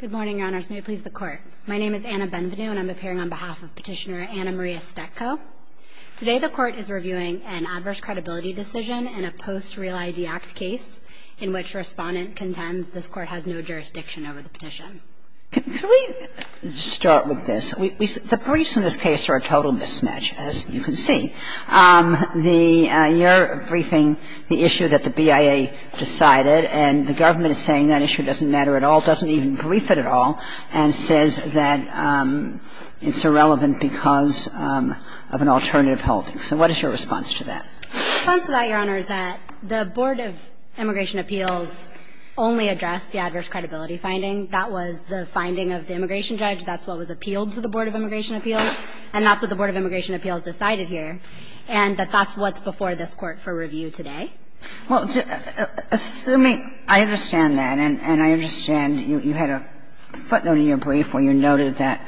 Good morning, Your Honors. May it please the Court. My name is Anna Benvenue, and I'm appearing on behalf of Petitioner Anna Maria Stetco. Today the Court is reviewing an adverse credibility decision in a post-Real ID Act case in which respondent contends this Court has no jurisdiction over the petition. Can we start with this? The briefs in this case are a total mismatch, as you can see. The you're briefing the issue that the BIA decided, and the government is saying that issue doesn't matter at all, doesn't even brief it at all, and says that it's irrelevant because of an alternative holding. So what is your response to that? My response to that, Your Honor, is that the Board of Immigration Appeals only addressed the adverse credibility finding. That was the finding of the immigration judge. That's what was appealed to the Board of Immigration Appeals, and that's what the Board of Immigration Appeals decided here. And that that's what's before this Court for review today. Well, assuming – I understand that, and I understand you had a footnote in your brief where you noted that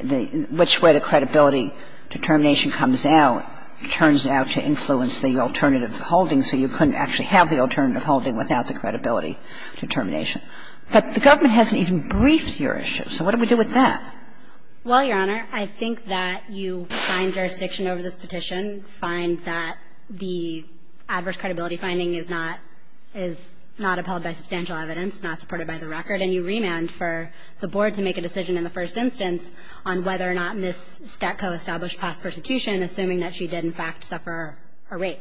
the – which way the credibility determination comes out turns out to influence the alternative holding, so you couldn't actually have the alternative holding without the credibility determination. But the government hasn't even briefed your issue. So what do we do with that? Well, Your Honor, I think that you find jurisdiction over this petition, find that the adverse credibility finding is not – is not upheld by substantial evidence, not supported by the record, and you remand for the Board to make a decision in the first instance on whether or not Ms. Statko established past persecution, assuming that she did in fact suffer a rape.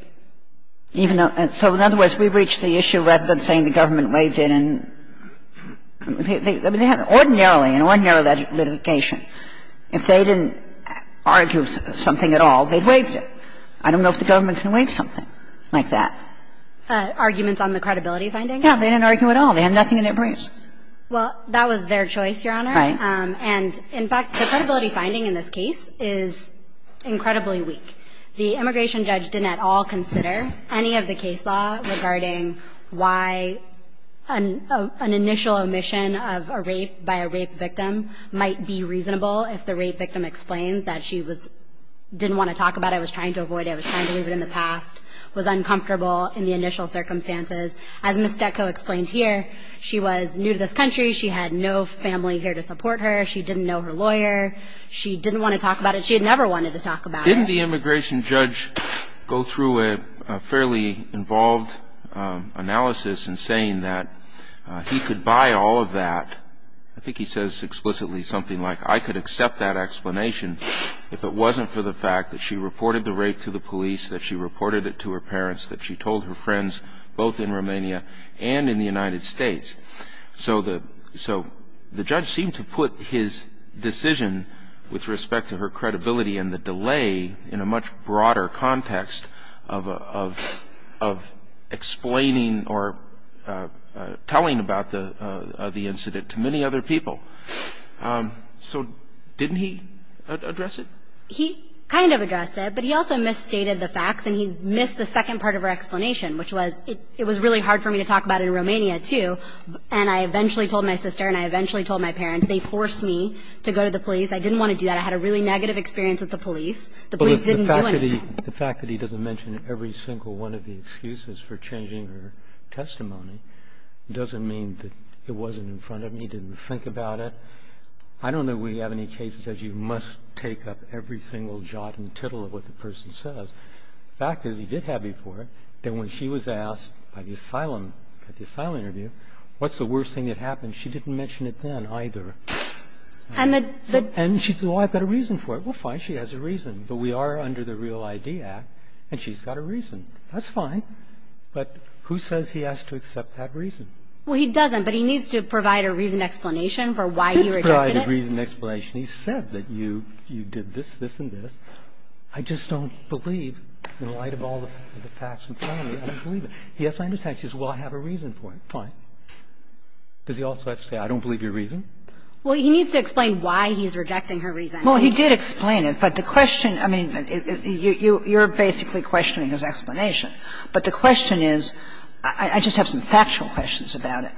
Even though – so in other words, we reach the issue rather than saying the government waived it and – I mean, they have – ordinarily, in ordinary litigation, if they didn't argue something at all, they'd waive it. I don't know if the government can waive something like that. Arguments on the credibility finding? Yeah. They didn't argue at all. They have nothing in their briefs. Well, that was their choice, Your Honor. Right. And in fact, the credibility finding in this case is incredibly weak. The immigration judge didn't at all consider any of the case law regarding why an – an initial omission of a rape by a rape victim might be reasonable if the rape victim explains that she was – didn't want to talk about it, was trying to avoid it, was trying to leave it in the past, was uncomfortable in the initial circumstances. As Ms. Statko explained here, she was new to this country. She had no family here to support her. She didn't know her lawyer. She didn't want to talk about it. She had never wanted to talk about it. Didn't the immigration judge go through a fairly involved analysis in saying that he could buy all of that – I think he says explicitly something like I could accept that explanation if it wasn't for the fact that she reported the rape to the police, that she reported it to her parents, that she told her friends both in Romania and in the United States. So the – so the judge seemed to put his decision with respect to her credibility and the delay in a much broader context of – of explaining or telling about the incident to many other people. So didn't he address it? He kind of addressed it, but he also misstated the facts and he missed the second part of her explanation, which was it was really hard for me to talk about in And I eventually told my sister and I eventually told my parents. They forced me to go to the police. I didn't want to do that. I had a really negative experience with the police. The police didn't do anything. But the fact that he – the fact that he doesn't mention every single one of the excuses for changing her testimony doesn't mean that it wasn't in front of him. He didn't think about it. I don't know that we have any cases that you must take up every single jot and tittle of what the person says. The fact is he did have you for it. Then when she was asked by the asylum – at the asylum interview, what's the worst thing that happened, she didn't mention it then either. And the – And she said, oh, I've got a reason for it. Well, fine, she has a reason. But we are under the Real ID Act and she's got a reason. That's fine. But who says he has to accept that reason? Well, he doesn't, but he needs to provide a reasoned explanation for why he rejected it. He's provided a reasoned explanation. He said that you – you did this, this, and this. I just don't believe, in light of all the facts in front of me, I don't believe it. He has to understand. She says, well, I have a reason for it. Fine. Does he also have to say, I don't believe your reason? Well, he needs to explain why he's rejecting her reason. Well, he did explain it, but the question – I mean, you're basically questioning his explanation. But the question is – I just have some factual questions about it.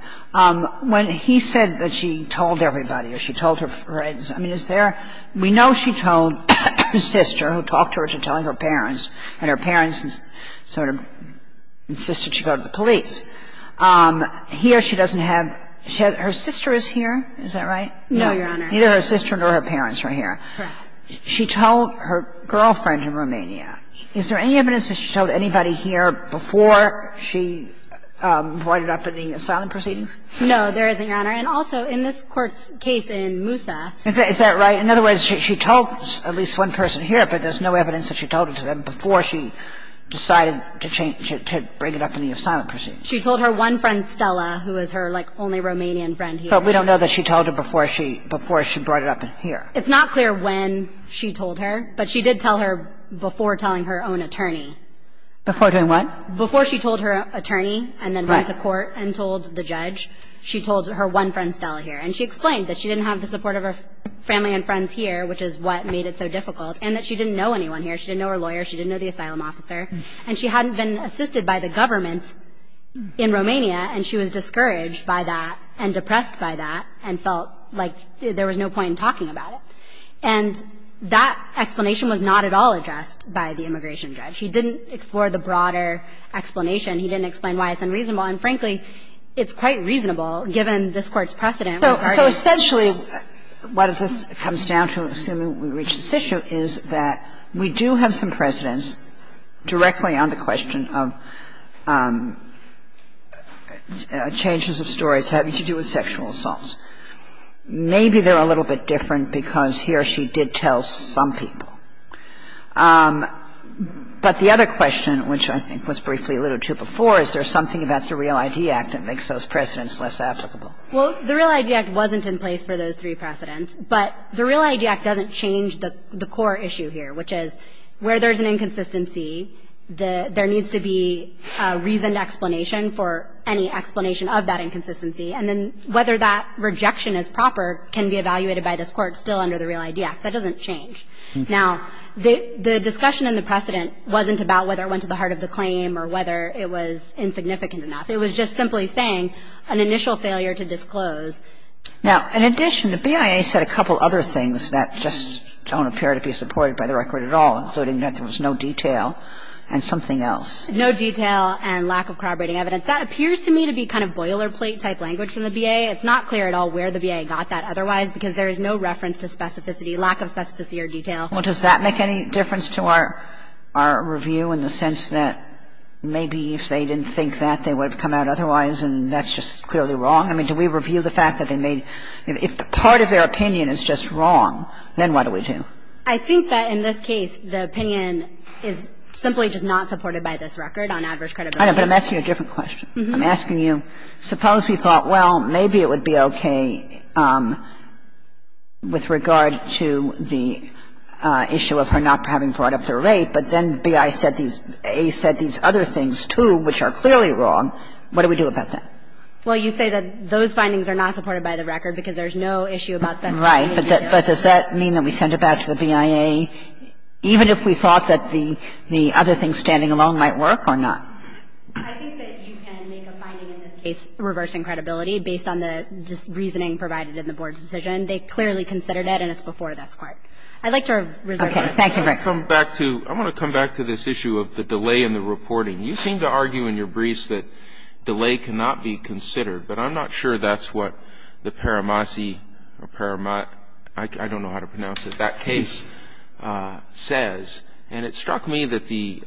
When he said that she told everybody or she told her friends, I mean, is there – we know she told her sister, who talked to her, to tell her parents, and her parents sort of insisted she go to the police. Here she doesn't have – her sister is here. Is that right? No, Your Honor. Neither her sister nor her parents are here. Correct. She told her girlfriend in Romania. Is there any evidence that she told anybody here before she voided up in the asylum proceedings? No, there isn't, Your Honor. And also in this Court's case in Moussa. Is that right? In other words, she told at least one person here, but there's no evidence that she told it to them before she decided to bring it up in the asylum proceedings. She told her one friend, Stella, who is her, like, only Romanian friend here. But we don't know that she told her before she brought it up here. It's not clear when she told her, but she did tell her before telling her own attorney. Before doing what? Before she told her attorney and then went to court and told the judge. She told her one friend, Stella, here. And she explained that she didn't have the support of her family and friends here, which is what made it so difficult, and that she didn't know anyone here. She didn't know her lawyer. She didn't know the asylum officer. And she hadn't been assisted by the government in Romania, and she was discouraged by that and depressed by that and felt like there was no point in talking about it. And that explanation was not at all addressed by the immigration judge. He didn't explore the broader explanation. He didn't explain why it's unreasonable. And, frankly, it's quite reasonable, given this Court's precedent. So essentially, what this comes down to, assuming we reach this issue, is that we do have some precedents directly on the question of changes of stories having to do with sexual assaults. Maybe they're a little bit different because he or she did tell some people. But the other question, which I think was briefly alluded to before, is there something about the REAL ID Act that makes those precedents less applicable? Well, the REAL ID Act wasn't in place for those three precedents. But the REAL ID Act doesn't change the core issue here, which is where there's an inconsistency, there needs to be a reasoned explanation for any explanation of that inconsistency. And then whether that rejection is proper can be evaluated by this Court still under the REAL ID Act. That doesn't change. Now, the discussion in the precedent wasn't about whether it went to the heart of the claim or whether it was insignificant enough. It was just simply saying an initial failure to disclose. Now, in addition, the BIA said a couple other things that just don't appear to be supported by the record at all, including that there was no detail and something else. No detail and lack of corroborating evidence. That appears to me to be kind of boilerplate-type language from the BIA. It's not clear at all where the BIA got that otherwise because there is no reference to specificity, lack of specificity or detail. Well, does that make any difference to our review in the sense that maybe if they didn't think that, they would have come out otherwise and that's just clearly wrong? I mean, do we review the fact that they made – if part of their opinion is just wrong, then what do we do? I think that in this case, the opinion is simply just not supported by this record on adverse credibility. I know, but I'm asking you a different question. I'm asking you, suppose we thought, well, maybe it would be okay with regard to the issue of her not having brought up the rape, but then BIA said these – A said these other things, too, which are clearly wrong. What do we do about that? Well, you say that those findings are not supported by the record because there's no issue about specificity and detail. Right. But does that mean that we send it back to the BIA even if we thought that the other thing standing alone might work or not? I think that you can make a finding in this case reversing credibility based on the reasoning provided in the Board's decision. They clearly considered it and it's before this Court. I'd like to reserve that. Thank you, Rick. I want to come back to this issue of the delay in the reporting. You seem to argue in your briefs that delay cannot be considered, but I'm not sure that's what the Paramasi – I don't know how to pronounce it – that case says. And it struck me that the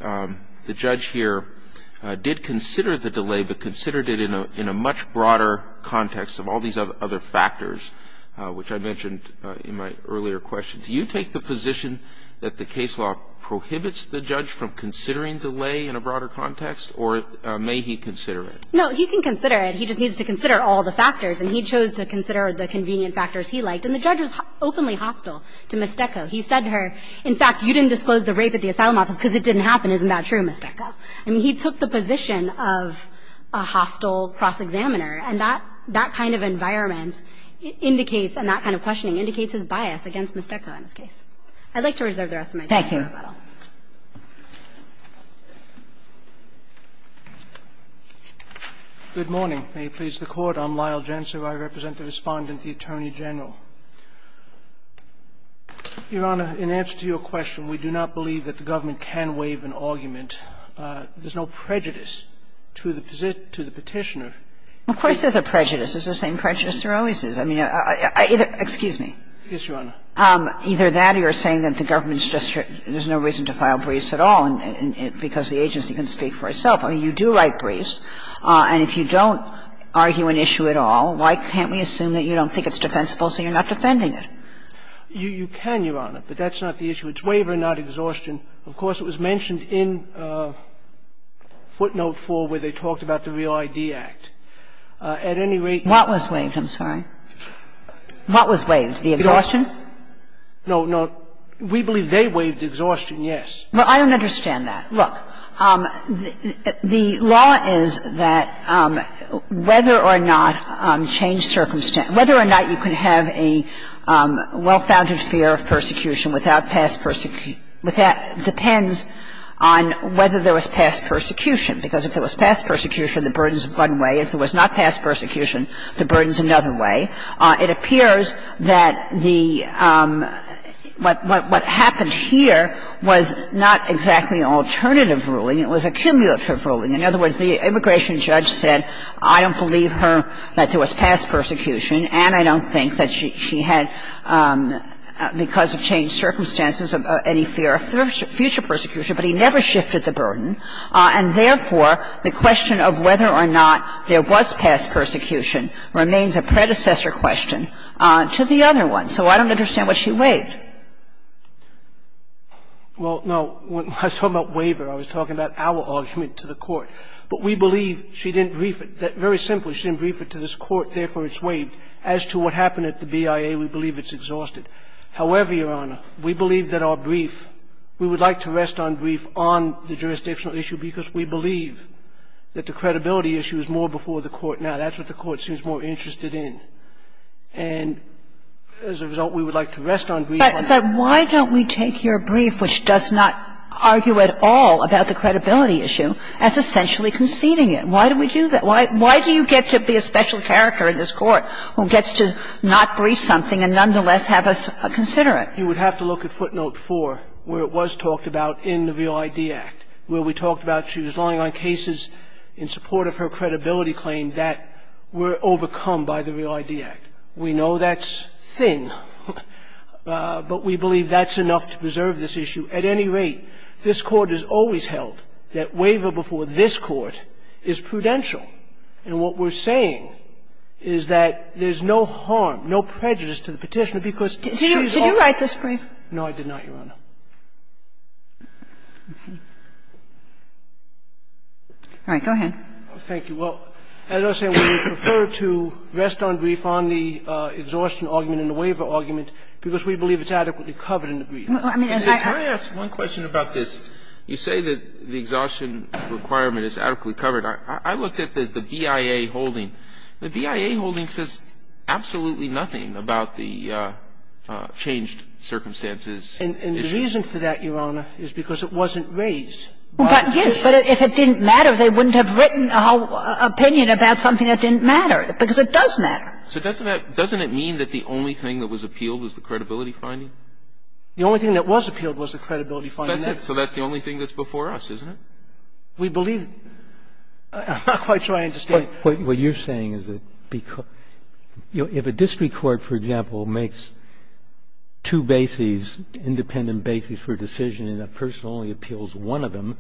judge here did consider the delay but considered it in a much broader context of all these other factors, which I mentioned in my earlier question. Do you take the position that the case law prohibits the judge from considering delay in a broader context, or may he consider it? No. He can consider it. He just needs to consider all the factors. And he chose to consider the convenient factors he liked. And the judge was openly hostile to Mestecco. He said to her, in fact, you didn't disclose the rape at the asylum office because it didn't happen. Isn't that true, Mestecco? I mean, he took the position of a hostile cross-examiner. And that kind of environment indicates and that kind of questioning indicates his bias against Mestecco in this case. I'd like to reserve the rest of my time for rebuttal. Thank you. Good morning. May it please the Court. I'm Lyle Gensler. I represent the Respondent, the Attorney General. Your Honor, in answer to your question, we do not believe that the government can waive an argument. There's no prejudice to the Petitioner. Of course there's a prejudice. There's the same prejudice there always is. I mean, I either – excuse me. Yes, Your Honor. Either that or you're saying that the government's just – there's no reason to file Brees at all because the agency can speak for itself. I mean, you do write Brees. And if you don't argue an issue at all, why can't we assume that you don't think it's defensible, so you're not defending it? You can, Your Honor, but that's not the issue. It's waiver, not exhaustion. Of course, it was mentioned in footnote 4 where they talked about the Real ID Act. At any rate – What was waived? I'm sorry. What was waived? The exhaustion? No, no. We believe they waived the exhaustion, yes. Well, I don't understand that. Look, the law is that whether or not change circumstance – whether or not you can have a well-founded fear of persecution without past – depends on whether there was past persecution. Because if there was past persecution, the burden's one way. If there was not past persecution, the burden's another way. It appears that the – what happened here was not exactly an alternative ruling. It was a cumulative ruling. In other words, the immigration judge said, I don't believe her that there was past persecution, and I don't think that she had, because of changed circumstances, any fear of future persecution. But he never shifted the burden. And therefore, the question of whether or not there was past persecution remains a predecessor question to the other one. So I don't understand why she waived. Well, no. When I was talking about waiver, I was talking about our argument to the Court. But we believe she didn't brief it. Very simply, she didn't brief it to this Court. Therefore, it's waived. As to what happened at the BIA, we believe it's exhausted. However, Your Honor, we believe that our brief – we would like to rest on brief on the jurisdictional issue because we believe that the credibility issue is more before the Court now. That's what the Court seems more interested in. And as a result, we would like to rest on brief on that. But why don't we take your brief, which does not argue at all about the credibility issue, as essentially conceding it? Why do we do that? Why do you get to be a special character in this Court who gets to not brief something and nonetheless have us consider it? You would have to look at footnote 4, where it was talked about in the REAL-ID Act, where we talked about she was lying on cases in support of her credibility claim that were overcome by the REAL-ID Act. We know that's thin, but we believe that's enough to preserve this issue. At any rate, this Court has always held that waiver before this Court is prudential. And what we're saying is that there's no harm, no prejudice to the Petitioner case, because she's all right. No, I did not, Your Honor. All right. Go ahead. Thank you. Well, as I was saying, we would prefer to rest on brief on the exhaustion argument and the waiver argument, because we believe it's adequately covered in the brief. Well, I mean, I asked one question about this. You say that the exhaustion requirement is adequately covered. I looked at the BIA holding. The BIA holding says absolutely nothing about the changed circumstances. And the reason for that, Your Honor, is because it wasn't raised. Yes, but if it didn't matter, they wouldn't have written an opinion about something that didn't matter, because it does matter. So doesn't that mean that the only thing that was appealed was the credibility finding? The only thing that was appealed was the credibility finding. That's it. So that's the only thing that's before us, isn't it? We believe that. I'm not quite sure I understand. What you're saying is that if a district court, for example, makes two bases, independent bases for a decision and a person only appeals one of them,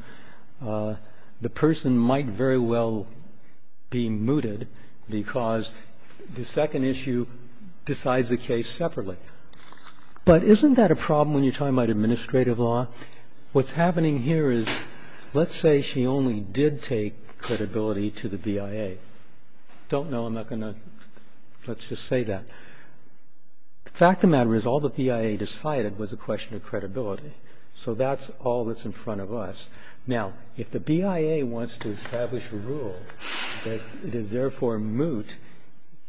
the person might very well be mooted because the second issue decides the case separately. But isn't that a problem when you're talking about administrative law? What's happening here is, let's say she only did take credibility to the BIA. I don't know. I'm not going to. Let's just say that. The fact of the matter is all the BIA decided was a question of credibility. So that's all that's in front of us. Now, if the BIA wants to establish a rule that it is therefore moot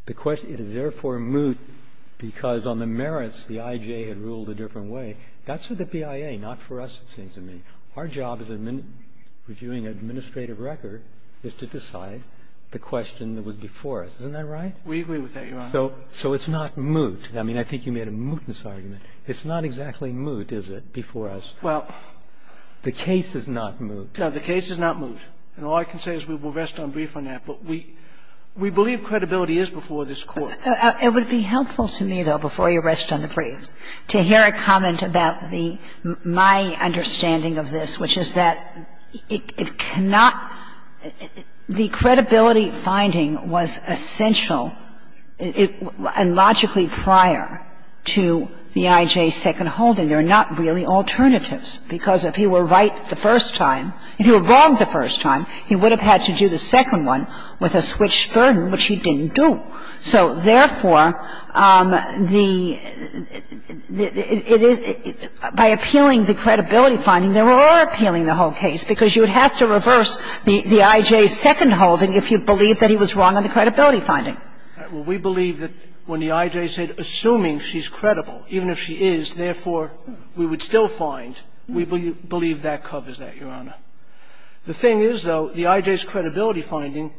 because on the basis of credibility, the BIA has to decide whether the person is moot or not. That's all that's in front of us, it seems to me. Our job as a reviewing administrative record is to decide the question that was before us. Isn't that right? We agree with that, Your Honor. So it's not moot. I mean, I think you made a mootness argument. It's not exactly moot, is it, before us? Well, the case is not moot. No, the case is not moot. And all I can say is we will rest on brief on that. But we believe credibility is before this Court. It would be helpful to me, though, before you rest on the brief, to hear a comment about the my understanding of this, which is that it cannot – the credibility finding was essential and logically prior to the IJ's second holding. There are not really alternatives, because if you were right the first time, if you were wrong the first time, he would have had to do the second one with a switched burden, which he didn't do. So therefore, the – by appealing the credibility finding, they were over-appealing the whole case, because you would have to reverse the IJ's second holding if you believed that he was wrong on the credibility finding. We believe that when the IJ said, assuming she's credible, even if she is, therefore, we would still find, we believe that covers that, Your Honor. The thing is, though, the IJ's credibility finding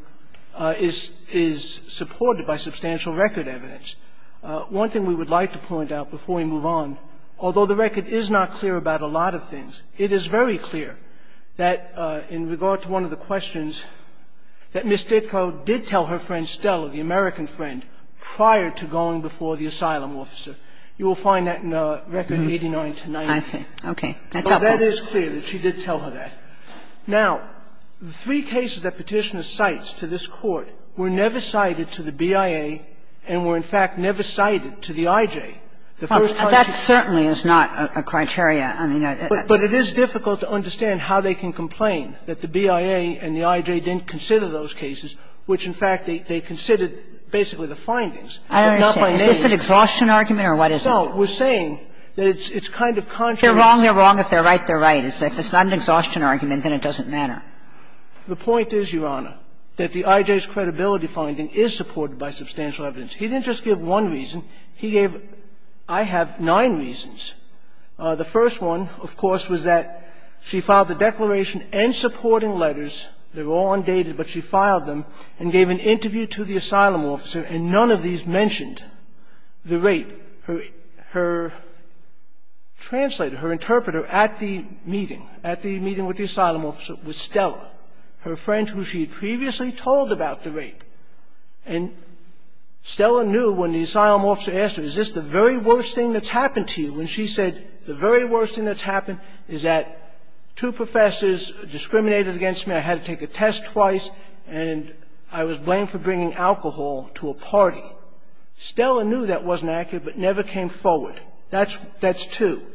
is – is supported by substantial record evidence. One thing we would like to point out before we move on, although the record is not clear about a lot of things, it is very clear that in regard to one of the questions that Ms. Ditko did tell her friend Stella, the American friend, prior to going before the asylum officer. You will find that in Record 89-90. Kagan. Okay. That's helpful. But that is clear that she did tell her that. Now, the three cases that Petitioner cites to this Court were never cited to the BIA and were, in fact, never cited to the IJ the first time she came in. Well, that certainly is not a criteria. I mean, I don't know. But it is difficult to understand how they can complain that the BIA and the IJ didn't consider those cases, which, in fact, they considered basically the findings, but not by name. Is this an exhaustion argument, or what is it? No. We're saying that it's kind of contrary. They're wrong. They're wrong. If they're right, they're right. If it's not an exhaustion argument, then it doesn't matter. The point is, Your Honor, that the IJ's credibility finding is supported by substantial evidence. He didn't just give one reason. He gave, I have, nine reasons. The first one, of course, was that she filed a declaration and supporting letters. They were all undated, but she filed them and gave an interview to the asylum officer, and none of these mentioned the rape. Her translator, her interpreter at the meeting, at the meeting with the asylum officer was Stella, her friend who she had previously told about the rape. And Stella knew when the asylum officer asked her, is this the very worst thing that's happened to you? And she said, the very worst thing that's happened is that two professors discriminated against me. I had to take a test twice. And I was blamed for bringing alcohol to a party. Stella knew that wasn't accurate, but never came forward. That's two.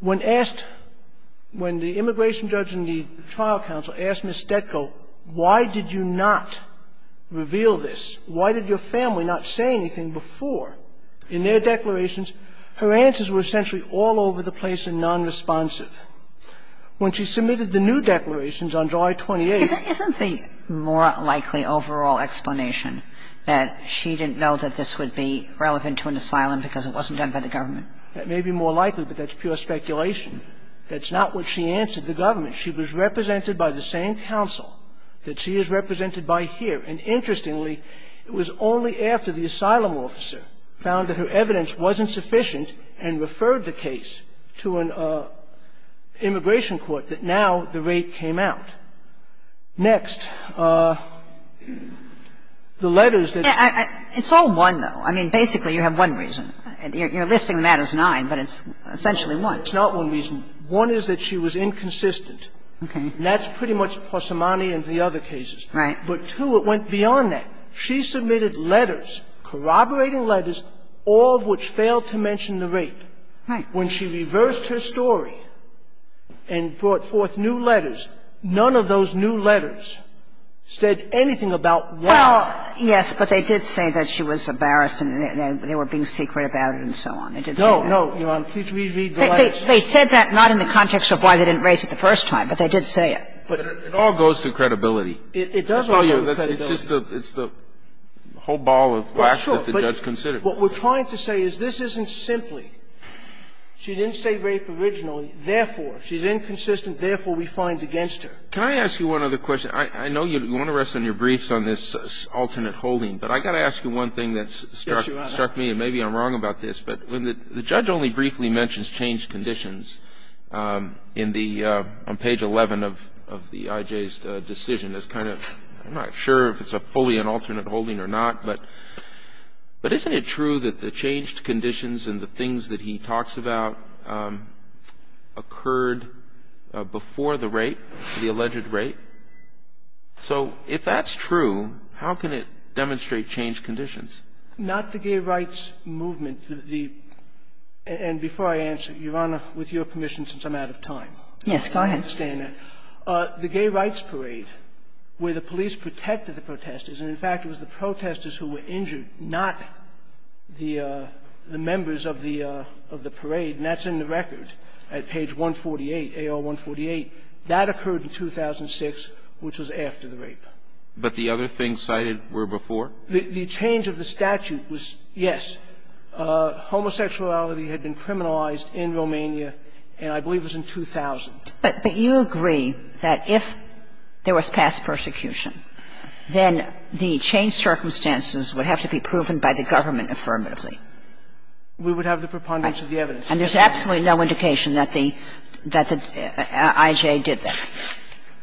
When asked, when the immigration judge and the trial counsel asked Ms. Stetko, why did you not reveal this? Why did your family not say anything before? In their declarations, her answers were essentially all over the place and nonresponsive. When she submitted the new declarations on July 28th. Kagan. Isn't the more likely overall explanation that she didn't know that this would be relevant to an asylum because it wasn't done by the government? That may be more likely, but that's pure speculation. That's not what she answered the government. She was represented by the same counsel that she is represented by here. And interestingly, it was only after the asylum officer found that her evidence wasn't sufficient and referred the case to an immigration court that now the rate came out. Next. The letters that. It's all one, though. I mean, basically you have one reason. You're listing the matters as nine, but it's essentially one. It's not one reason. One is that she was inconsistent. Okay. And that's pretty much Passamani and the other cases. Right. But two, it went beyond that. She submitted letters, corroborating letters, all of which failed to mention the rate. Right. When she reversed her story and brought forth new letters, none of those new letters said anything about why. Well, yes, but they did say that she was embarrassed and they were being secret about it and so on. They did say that. No, no, Your Honor. Please read the letters. They said that not in the context of why they didn't raise it the first time, but they did say it. But it all goes to credibility. It does all go to credibility. It's just the whole ball of wax that the judge considered. Well, sure. But what we're trying to say is this isn't simply she didn't say rape originally, therefore she's inconsistent, therefore we find against her. Can I ask you one other question? I know you want to rest on your briefs on this alternate holding, but I've got to ask you one thing that's struck me. Yes, Your Honor. And maybe I'm wrong about this, but when the judge only briefly mentions changed conditions on page 11 of the I.J.'s decision, it's kind of, I'm not sure if it's a fully alternate holding or not, but isn't it true that the changed conditions and the things that he talks about occurred before the rape, the alleged rape? So if that's true, how can it demonstrate changed conditions? Not the gay rights movement. The – and before I answer, Your Honor, with your permission, since I'm out of time. Yes, go ahead. I understand that. The gay rights parade where the police protected the protesters, and in fact it was the protesters who were injured, not the members of the parade, and that's in the record at page 148, A.R. 148. That occurred in 2006, which was after the rape. But the other things cited were before? The change of the statute was, yes, homosexuality had been criminalized in Romania, and I believe it was in 2000. But you agree that if there was past persecution, then the changed circumstances would have to be proven by the government affirmatively. We would have the preponderance of the evidence. And there's absolutely no indication that the I.J. did that.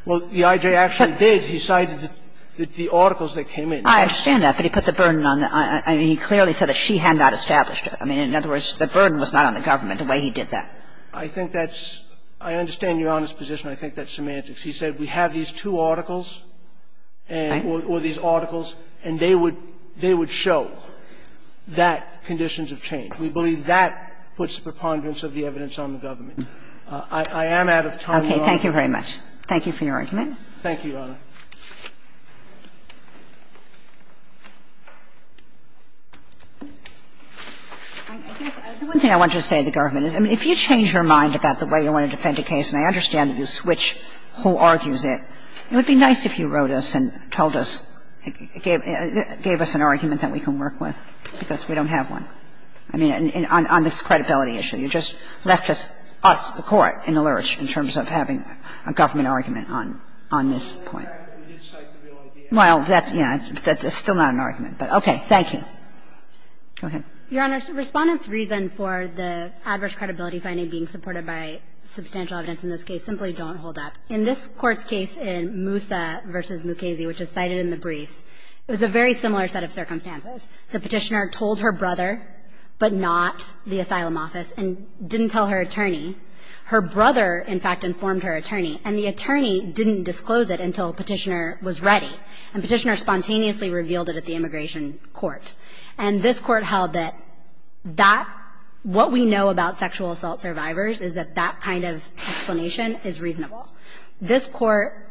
Well, the I.J. actually did. He cited the articles that came in. I understand that, but he put the burden on the – I mean, he clearly said that she had not established it. I mean, in other words, the burden was not on the government, the way he did that. I think that's – I understand Your Honor's position. I think that's semantics. He said we have these two articles and – or these articles, and they would – they would show that conditions have changed. We believe that puts the preponderance of the evidence on the government. I am out of time, Your Honor. Thank you very much. Thank you for your argument. Thank you, Your Honor. I guess the one thing I wanted to say to the government is, I mean, if you change your mind about the way you want to defend a case, and I understand that you switch who argues it, it would be nice if you wrote us and told us – gave us an argument that we can work with, because we don't have one. I mean, on this credibility issue. You just left us, the Court, in the lurch in terms of having a government argument on this point. Well, that's – yeah. That's still not an argument. But, okay. Thank you. Go ahead. Your Honor, Respondent's reason for the adverse credibility finding being supported by substantial evidence in this case simply don't hold up. In this Court's case in Moussa v. Mukasey, which is cited in the briefs, it was a very similar set of circumstances. The Petitioner told her brother, but not the asylum office, and didn't tell her attorney. Her brother, in fact, informed her attorney, and the attorney didn't disclose it until Petitioner was ready. And Petitioner spontaneously revealed it at the Immigration Court. And this Court held that that – what we know about sexual assault survivors is that that kind of explanation is reasonable. This Court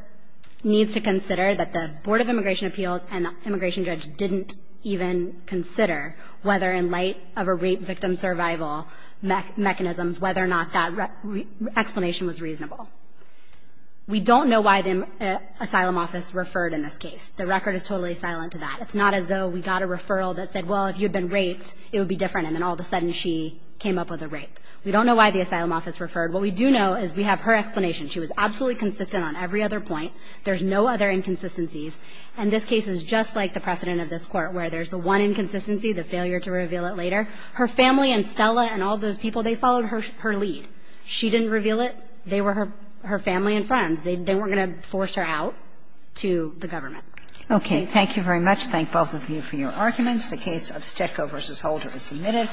needs to consider that the Board of Immigration Appeals and the immigration judge didn't even consider whether, in light of a rape victim survival mechanism, whether or not that explanation was reasonable. We don't know why the asylum office referred in this case. The record is totally silent to that. It's not as though we got a referral that said, well, if you had been raped, it would be different, and then all of a sudden she came up with a rape. We don't know why the asylum office referred. What we do know is we have her explanation. She was absolutely consistent on every other point. There's no other inconsistencies. And this case is just like the precedent of this Court, where there's the one inconsistency, the failure to reveal it later. Her family and Stella and all those people, they followed her lead. She didn't reveal it. They were her family and friends. They weren't going to force her out to the government. Okay. Thank you very much. Thank both of you for your arguments. The case of Stecco v. Holder is submitted.